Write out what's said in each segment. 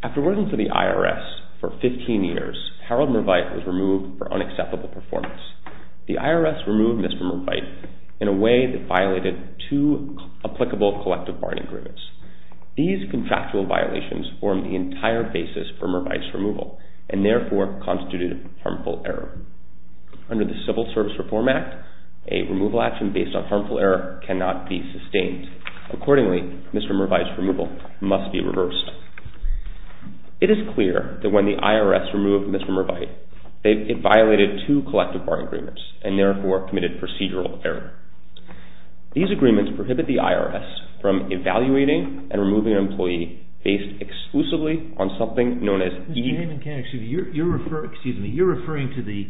After working for the IRS for 15 years, Harold Mervite was removed for unacceptable performance. The IRS removed Mr. Mervite in a way that violated two applicable collective bargaining agreements. These contractual violations formed the entire basis for Mervite's removal, and therefore constituted harmful error. Under the Civil Service Reform Act, a removal action based on harmful error cannot be sustained. Accordingly, Mr. Mervite's removal must be reversed. It is clear that when the IRS removed Mr. Mervite, it violated two collective bargaining agreements, and therefore committed procedural error. These agreements prohibit the IRS from evaluating and removing an employee based exclusively on something known as E- Excuse me, you're referring to the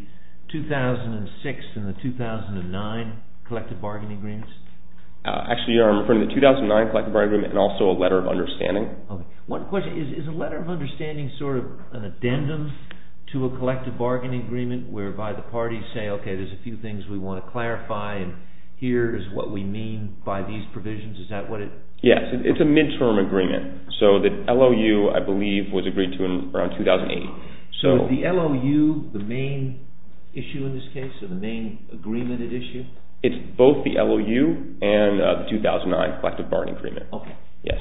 2006 and the 2009 collective bargaining agreements? Actually, I'm referring to the 2009 collective bargaining agreement and also a letter of understanding. One question, is a letter of understanding sort of an addendum to a collective bargaining agreement whereby the parties say, okay, there's a few things we want to clarify, and here is what we mean by these provisions? Is that what it- Yes. It's a midterm agreement. So the LOU, I believe, was agreed to around 2008. So the LOU, the main issue in this case, or the main agreement at issue? It's both the LOU and the 2009 collective bargaining agreement. Okay. Yes.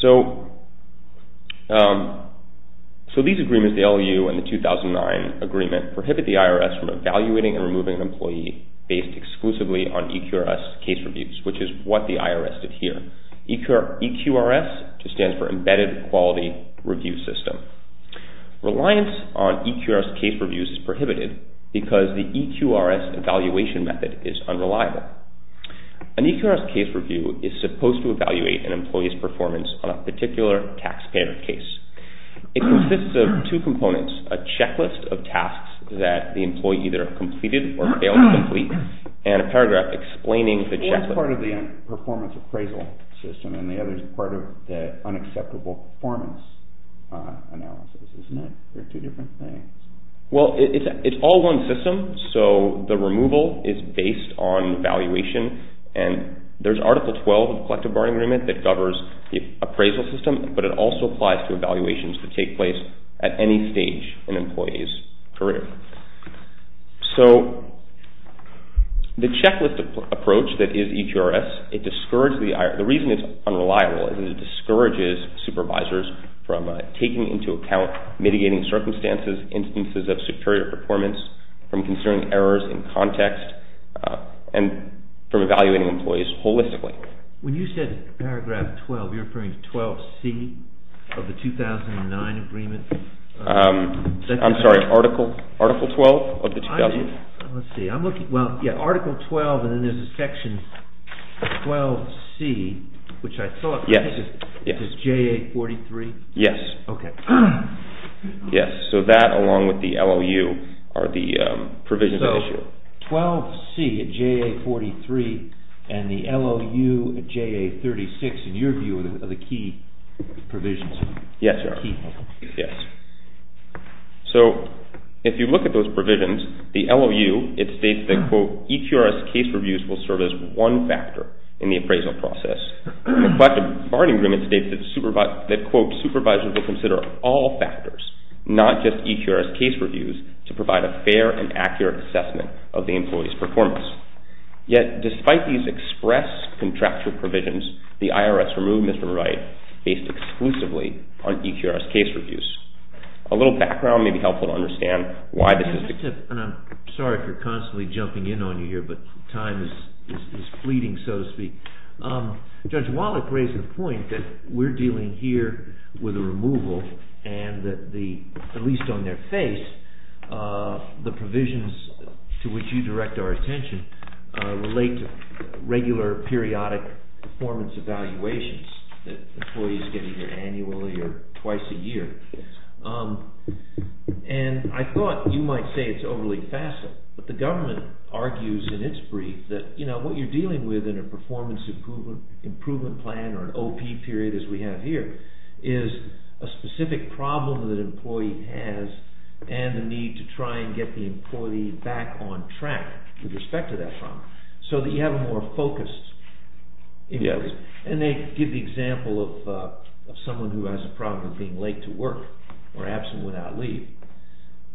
So these agreements, the LOU and the 2009 agreement, prohibit the IRS from evaluating and removing an employee based exclusively on EQRS case reviews, which is what the IRS did here. EQRS just stands for Embedded Quality Review System. Reliance on EQRS case reviews is prohibited because the EQRS evaluation method is unreliable. Why? An EQRS case review is supposed to evaluate an employee's performance on a particular taxpayer case. It consists of two components, a checklist of tasks that the employee either completed or failed to complete, and a paragraph explaining the checklist. One is part of the performance appraisal system, and the other is part of the unacceptable performance analysis. Isn't it? They're two different things. Well, it's all one system, so the removal is based on valuation, and there's Article 12 of the Collective Bargaining Agreement that covers the appraisal system, but it also applies to evaluations that take place at any stage in an employee's career. So the checklist approach that is EQRS, it discourages the IRS. The reason it's unreliable is it discourages supervisors from taking into account mitigating circumstances, instances of superior performance, from considering errors in context, and from evaluating employees holistically. When you said paragraph 12, you're referring to 12C of the 2009 agreement? I'm sorry. Article 12 of the 2009. Let's see. I'm looking. Well, yeah, Article 12, and then there's a section 12C, which I thought was J843. Yes. Okay. Yes. So that, along with the LOU, are the provisions of issue. So 12C, J843, and the LOU, J836, in your view, are the key provisions. Yes, they are. Key. Yes. So if you look at those provisions, the LOU, it states that, quote, EQRS case reviews will serve as one factor in the appraisal process. But the bargaining agreement states that, quote, supervisors will consider all factors, not just EQRS case reviews, to provide a fair and accurate assessment of the employee's performance. Yet, despite these express contractual provisions, the IRS removed Mr. Wright based exclusively on EQRS case reviews. A little background may be helpful to understand why this is the case. I'm sorry if you're constantly jumping in on me here, but time is fleeting, so to speak. Judge Wallach raised the point that we're dealing here with a removal and that the, at least on their face, the provisions to which you direct our attention relate to regular periodic performance evaluations that employees get either annually or twice a year. And I thought you might say it's overly facile, but the government argues in its brief that, you know, what you're dealing with in a performance improvement plan or an OP period, as we have here, is a specific problem that an employee has and the need to try and get the employee back on track with respect to that problem, so that you have a more focused. And they give the example of someone who has a problem with being late to work or absent without leave.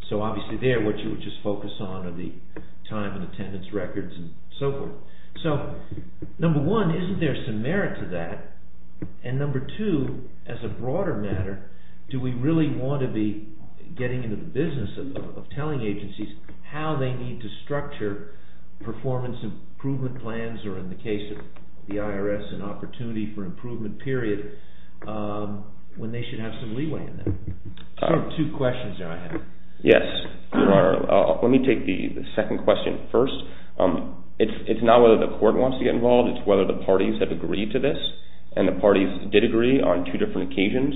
So obviously there, what you would just focus on are the time and attendance records and so forth. So, number one, isn't there some merit to that? And number two, as a broader matter, do we really want to be getting into the business of telling agencies how they need to structure performance improvement plans, or in the case of the IRS, an opportunity for improvement period, when they should have some leeway in that? Those are two questions that I have. Yes. Let me take the second question first. It's not whether the court wants to get involved, it's whether the parties have agreed to this. And the parties did agree on two different occasions.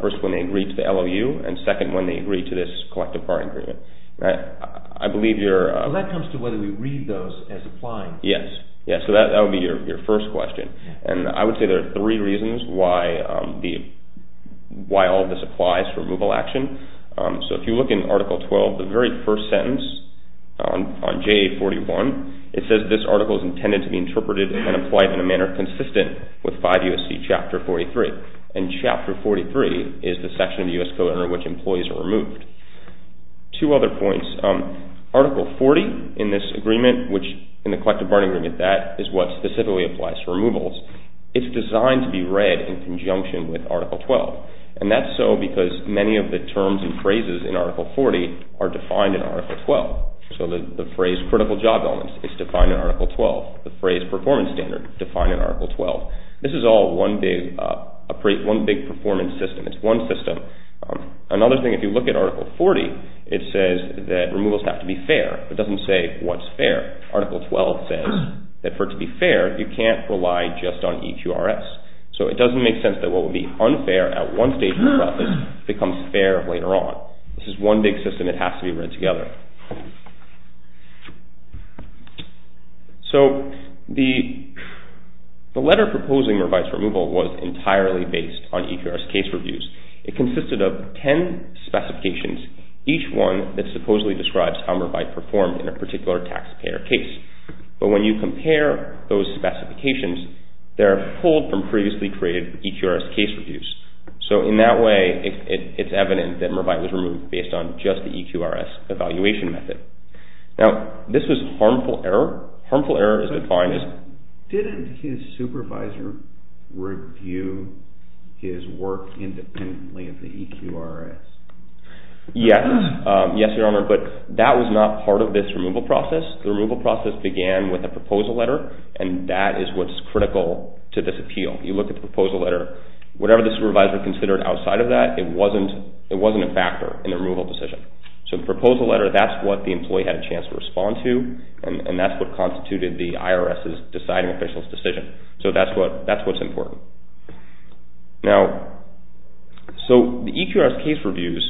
First, when they agreed to the LOU, and second, when they agreed to this collective bargaining agreement. I believe you're... Well, that comes to whether we read those as applying. Yes. So that would be your first question. And I would say there are three reasons why all of this applies for removal action. So if you look in Article 12, the very first sentence on JA 41, it says this article is intended to be interpreted and applied in a manner consistent with 5 U.S.C. Chapter 43. And Chapter 43 is the section of the U.S. Code under which employees are removed. Two other points. Article 40 in this agreement, which in the collective bargaining agreement, that is what specifically applies to removals. It's designed to be read in conjunction with Article 12. And that's so because many of the terms and phrases in Article 40 are defined in Article 12. So the phrase critical job elements is defined in Article 12. The phrase performance standard is defined in Article 12. This is all one big performance system. It's one system. Another thing, if you look at Article 40, it says that removals have to be fair. It doesn't say what's fair. Article 12 says that for it to be fair, you can't rely just on EQRS. So it doesn't make sense that what would be unfair at one stage in the process becomes fair later on. This is one big system. It has to be read together. So the letter proposing revised removal was entirely based on EQRS case reviews. It consisted of 10 specifications, each one that supposedly describes how Mervide performed in a particular taxpayer case. But when you compare those specifications, they're pulled from previously created EQRS case reviews. So, in that way, it's evident that Mervide was removed based on just the EQRS evaluation method. Now, this was harmful error. Harmful error is defined as... Yes. Yes, Your Honor. But that was not part of this removal process. The removal process began with a proposal letter, and that is what's critical to this appeal. You look at the proposal letter, whatever the supervisor considered outside of that, it wasn't a factor in the removal decision. So the proposal letter, that's what the employee had a chance to respond to, and that's what constituted the IRS's deciding official's decision. So that's what's important. Now, so the EQRS case reviews...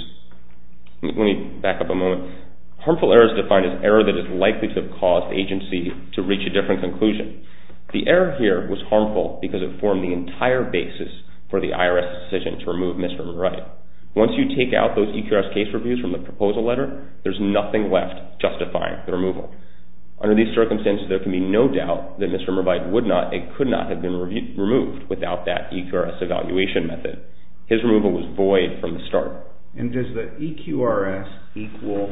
Let me back up a moment. Harmful error is defined as error that is likely to have caused the agency to reach a different conclusion. The error here was harmful because it formed the entire basis for the IRS's decision to remove Mr. Mervide. Once you take out those EQRS case reviews from the proposal letter, there's nothing left justifying the removal. Under these circumstances, there can be no doubt that Mr. Mervide would not and could not have been removed without that EQRS evaluation method. His removal was void from the start. And does the EQRS equal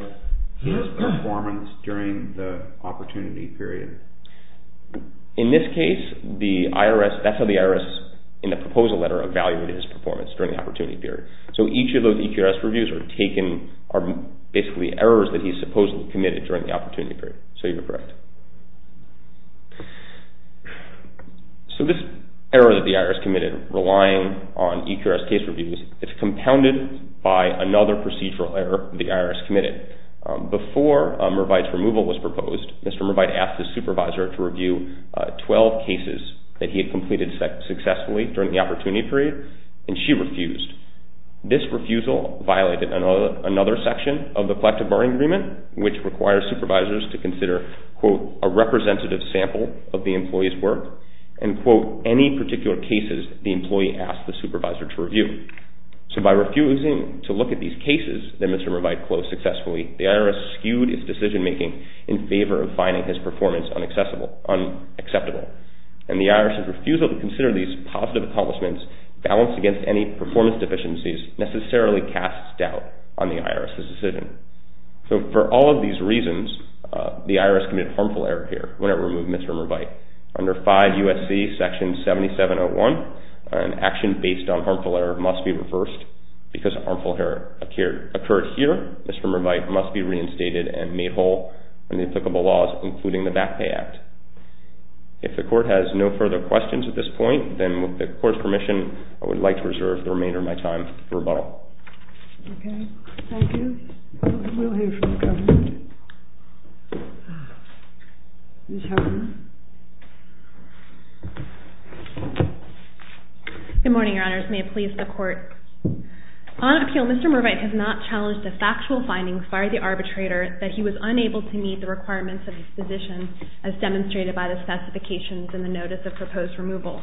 his performance during the opportunity period? In this case, the IRS, that's how the IRS in the proposal letter evaluated his performance during the opportunity period. So each of those EQRS reviews are taken, are basically errors that he supposedly committed during the opportunity period. So you're correct. So this error that the IRS committed relying on EQRS case reviews, it's compounded by another procedural error the IRS committed. Before Mervide's removal was proposed, Mr. Mervide asked his supervisor to review 12 cases that he had completed successfully during the opportunity period, and she refused. This refusal violated another section of the collective bargaining agreement, which requires supervisors to consider, quote, a representative sample of the employee's work, and, quote, any particular cases the employee asked the supervisor to review. So by refusing to look at these cases that Mr. Mervide closed successfully, the IRS skewed his decision making in favor of finding his performance unacceptable. And the IRS's refusal to consider these positive accomplishments balanced against any performance deficiencies necessarily casts doubt on the IRS's decision. So for all of these reasons, the IRS committed a harmful error here when it removed Mr. Mervide. Under 5 U.S.C. Section 7701, an action based on harmful error must be reversed. Because a harmful error occurred here, Mr. Mervide must be reinstated and made whole in the applicable laws, including the Back Pay Act. If the Court has no further questions at this point, then with the Court's permission, I would like to reserve the remainder of my time for rebuttal. Thank you. We'll hear from the government. Ms. Howard. Good morning, Your Honors. May it please the Court. On appeal, Mr. Mervide has not challenged the factual findings by the arbitrator that he was unable to meet the requirements of his position as demonstrated by the specifications in the Notice of Proposed Removal.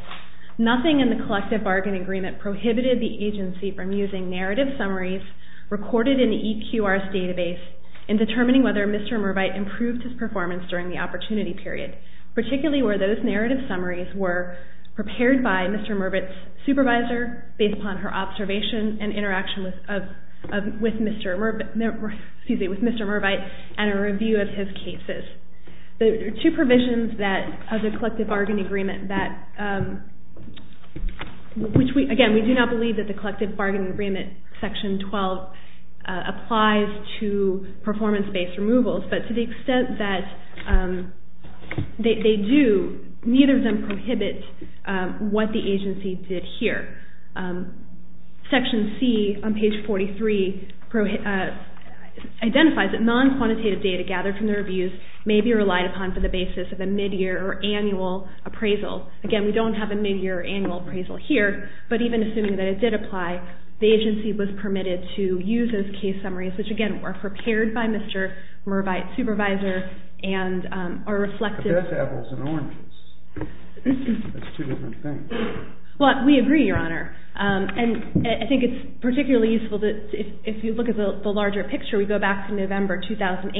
Nothing in the collective bargain agreement prohibited the agency from using narrative summaries recorded in the EQRS database in determining whether Mr. Mervide improved his performance during the opportunity period, particularly where those narrative summaries were prepared by Mr. Mervide's supervisor based upon her observation and interaction with Mr. Mervide and a review of his cases. There are two provisions of the collective bargain agreement that, again, we do not believe that the collective bargain agreement section 12 applies to performance-based removals, but to the extent that they do, neither of them prohibit what the agency did here. Section C on page 43 identifies that non-quantitative data gathered from their abuse may be relied upon for the basis of a mid-year or annual appraisal. Again, we don't have a mid-year or annual appraisal here, but even assuming that it did apply, the agency was permitted to use those case summaries, which, again, were prepared by Mr. Mervide's supervisor and are reflective. But that's apples and oranges. That's two different things. Well, we agree, Your Honor. And I think it's particularly useful that if you look at the larger picture, we go back to November 2008.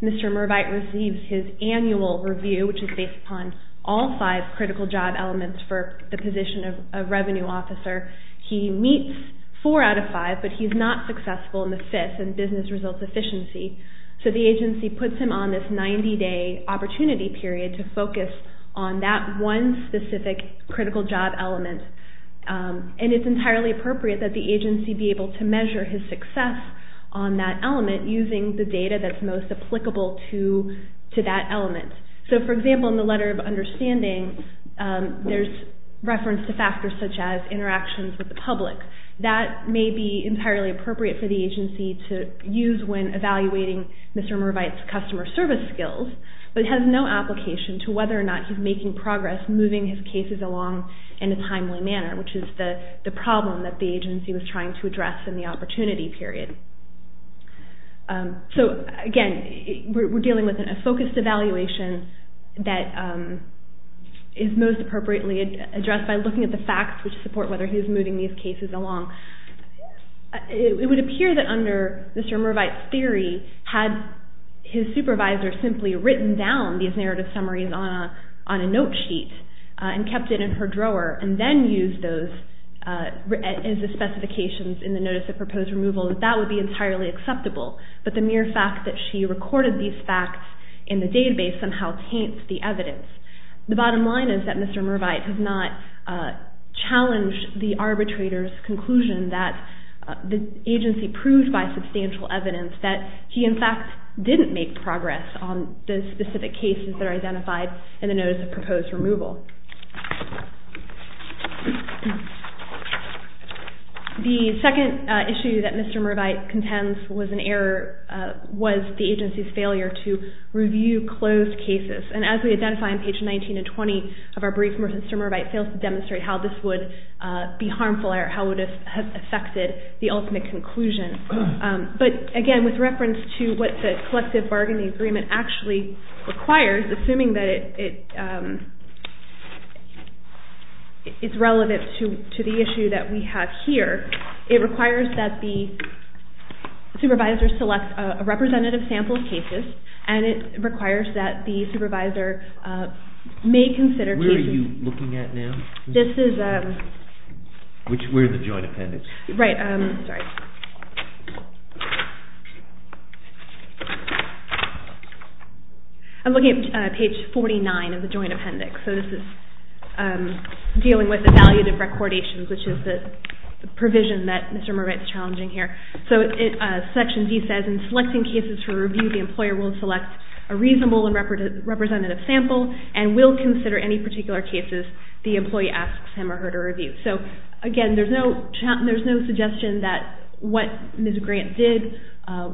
Mr. Mervide receives his annual review, which is based upon all five critical job elements for the position of revenue officer. He meets four out of five, but he's not successful in the fifth in business results efficiency. So the agency puts him on this 90-day opportunity period to focus on that one specific critical job element. And it's entirely appropriate that the agency be able to measure his success on that element using the data that's most applicable to that element. So, for example, in the letter of understanding, there's reference to factors such as interactions with the public. That may be entirely appropriate for the agency to use when evaluating Mr. Mervide's customer service skills, but it has no application to whether or not he's making progress moving his cases along in a timely manner, which is the problem that the agency was trying to address in the opportunity period. So, again, we're dealing with a focused evaluation that is most appropriately addressed by looking at the facts which support whether he's moving these cases along. It would appear that under Mr. Mervide's theory had his supervisor simply written down these narrative summaries on a note sheet and kept it in her drawer and then used those as the specifications in the notice of proposed removal. That would be entirely acceptable, but the mere fact that she recorded these facts in the database somehow taints the evidence. The bottom line is that Mr. Mervide has not challenged the arbitrator's conclusion that the agency proved by substantial evidence that he, in fact, didn't make progress on the specific cases that are identified in the notice of proposed removal. The second issue that Mr. Mervide contends was an error, was the agency's failure to review closed cases. And as we identify on page 19 and 20 of our brief, Mr. Mervide fails to demonstrate how this would be harmful or how it would have affected the ultimate conclusion. But, again, with reference to what the collective bargaining agreement actually requires, assuming that it's relevant to the issue that we have here, it requires that the supervisor select a representative sample of cases and it requires that the supervisor may consider cases... Where are you looking at now? This is... Where's the joint appendix? Right. Sorry. I'm looking at page 49 of the joint appendix. So this is dealing with evaluative recordations, which is the provision that Mr. Mervide is challenging here. So section D says, in selecting cases for review, the employer will select a reasonable and representative sample and will consider any particular cases the employee asks him or her to review. So, again, there's no suggestion that what Ms. Grant did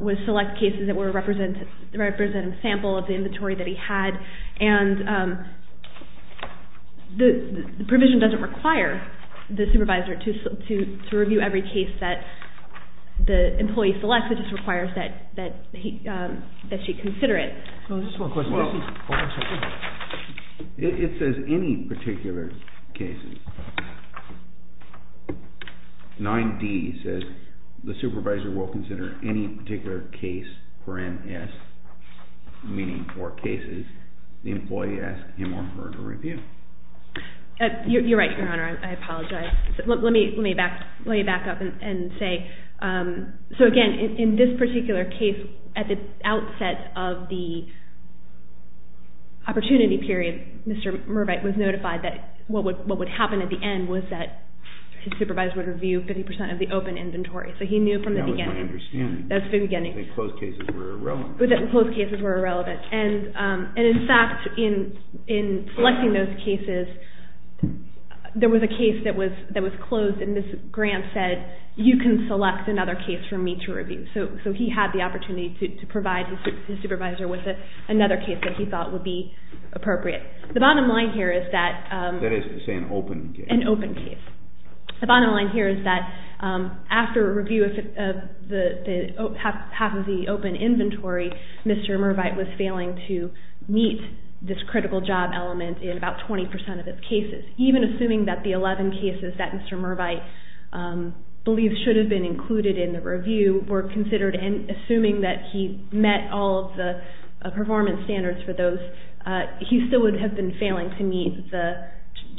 was select cases that were a representative sample of the inventory that he had. And the provision doesn't require the supervisor to review every case that the employee selects. It just requires that she consider it. Just one question. It says any particular cases. 9D says the supervisor will consider any particular case for MS, meaning for cases the employee asks him or her to review. You're right, Your Honor. I apologize. Let me back up and say... So, again, in this particular case, at the outset of the opportunity period, Mr. Mervide was notified that what would happen at the end was that his supervisor would review 50% of the open inventory. So he knew from the beginning. That was my understanding. That was the beginning. That closed cases were irrelevant. That closed cases were irrelevant. And, in fact, in selecting those cases, there was a case that was closed and Ms. Grant said, you can select another case for me to review. So he had the opportunity to provide his supervisor with another case that he thought would be appropriate. The bottom line here is that... That is to say an open case. An open case. The bottom line here is that after a review of half of the open inventory, Mr. Mervide was failing to meet this critical job element in about 20% of his cases. Even assuming that the 11 cases that Mr. Mervide believed should have been included in the review were considered and assuming that he met all of the performance standards for those, he still would have been failing to meet the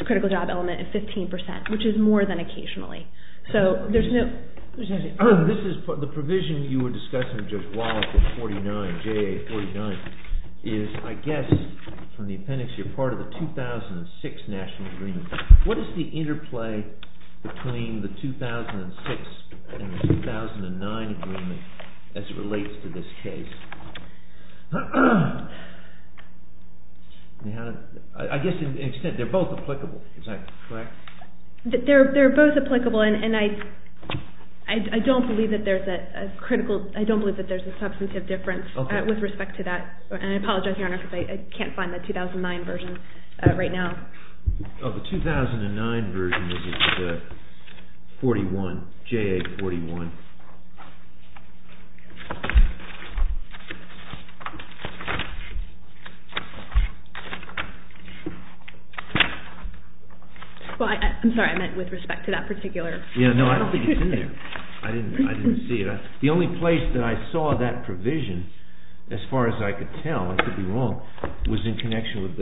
critical job element at 15%, which is more than occasionally. So there's no... This is... The provision you were discussing just a while ago, 49, JA 49, is, I guess, from the appendix you're part of the 2006 national agreement. What is the interplay between the 2006 and the 2009 agreement as it relates to this case? I guess to an extent, they're both applicable. Is that correct? They're both applicable and I don't believe that there's a critical... I don't believe that there's a substantive difference with respect to that. And I apologize, Your Honor, because I can't find the 2009 version right now. Oh, the 2009 version was the 41, JA 41. Well, I'm sorry, I meant with respect to that particular... Yeah, no, I don't think it's in there. I didn't see it. The only place that I saw that provision, as far as I could tell, I could be wrong, was in connection with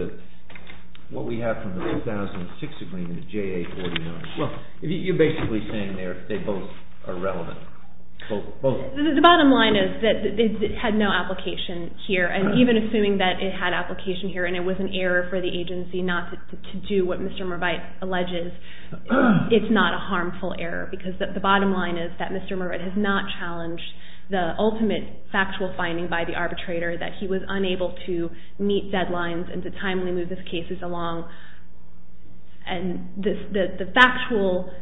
what we have from the 2006 agreement, the JA 49. Well, you're basically saying they both are relevant. Both. The bottom line is that it had no application here. And even assuming that it had application here and it was an error for the agency not to do what Mr. Merbite alleges, it's not a harmful error. Because the bottom line is that Mr. Merbite has not challenged the ultimate factual finding by the arbitrator that he was unable to meet deadlines and to timely move his cases along. And the factual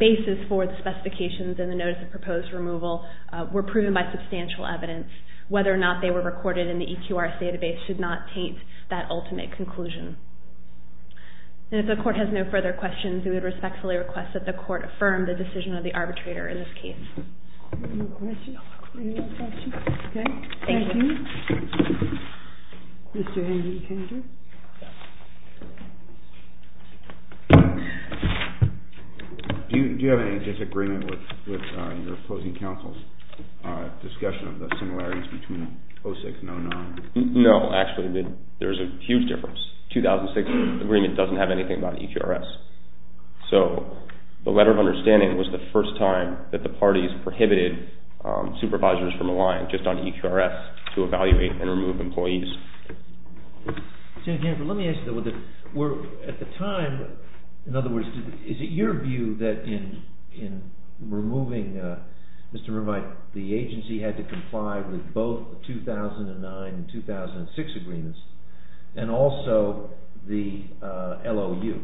basis for the specifications in the notice of proposed removal were proven by substantial evidence. Whether or not they were recorded in the EQRS database should not taint that ultimate conclusion. And if the court has no further questions, we would respectfully request that the court affirm the decision of the arbitrator in this case. Any other questions? Okay. Thank you. Mr. Henry Kendrick. Do you have any disagreement with your opposing counsel's discussion of the similarities between 06 and 09? No, actually, there's a huge difference. The 2006 agreement doesn't have anything about EQRS. So the letter of understanding was the first time that the parties prohibited supervisors from relying just on EQRS to evaluate and remove employees. Senator Canford, let me ask you this. At the time, in other words, is it your view that in removing Mr. Merbite, the agency had to comply with both the 2009 and 2006 agreements and also the LOU?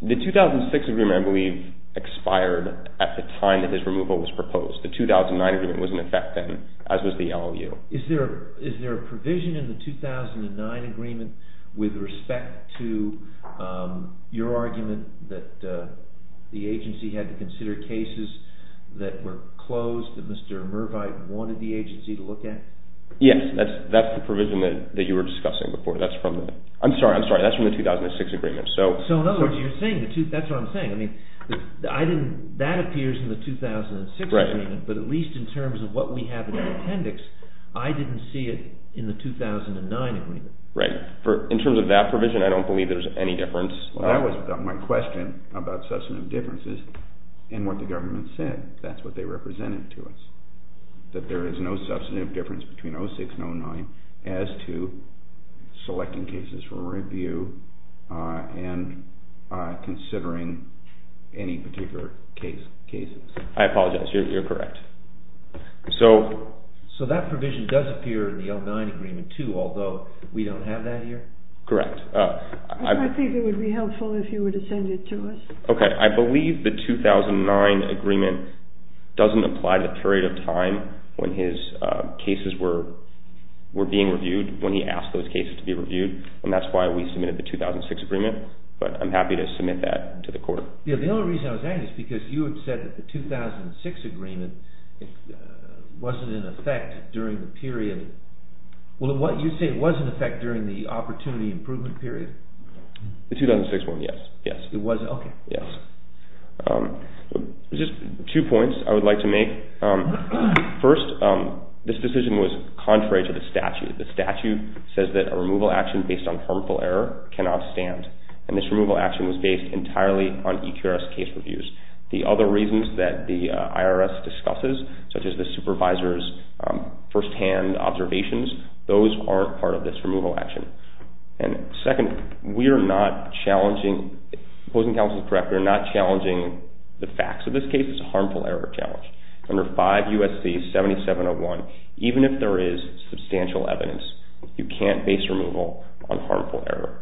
The 2006 agreement, I believe, expired at the time that this removal was proposed. The 2009 agreement was in effect then, as was the LOU. Is there a provision in the 2009 agreement with respect to your argument that the agency had to consider cases that were closed that Mr. Merbite wanted the agency to look at? Yes, that's the provision that you were discussing before. I'm sorry, that's from the 2006 agreement. So in other words, that's what I'm saying. That appears in the 2006 agreement, but at least in terms of what we have in the appendix, I didn't see it in the 2009 agreement. Right. In terms of that provision, I don't believe there's any difference. That was my question about substantive differences and what the government said. That's what they represented to us. That there is no substantive difference between 2006 and 2009 as to selecting cases for review and considering any particular cases. I apologize, you're correct. So that provision does appear in the 2009 agreement too, although we don't have that here? Correct. I think it would be helpful if you were to send it to us. I believe the 2009 agreement doesn't apply to the period of time when his cases were being reviewed, when he asked those cases to be reviewed, and that's why we submitted the 2006 agreement, but I'm happy to submit that to the court. The only reason I was asking is because you had said that the 2006 agreement wasn't in effect during the period. Well, you say it was in effect during the opportunity improvement period? The 2006 one, yes. It was? Okay. Yes. Just two points I would like to make. First, this decision was contrary to the statute. The statute says that a removal action based on harmful error cannot stand, and this removal action was based entirely on EQRS case reviews. The other reasons that the IRS discusses, such as the supervisor's first-hand observations, those aren't part of this removal action. And second, we are not challenging, opposing counsel is correct, we are not challenging the facts of this case. It's a harmful error challenge. Under 5 U.S.C. 7701, even if there is substantial evidence, you can't base removal on harmful error.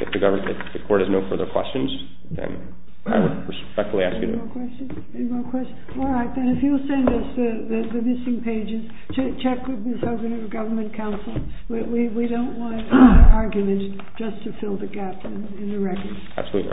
If the court has no further questions, then I would respectfully ask you to... Any more questions? Any more questions? All right, then if you'll send us the missing pages, check with the Department of Government counsel. We don't want arguments just to fill the gap in the records. Absolutely, Your Honor.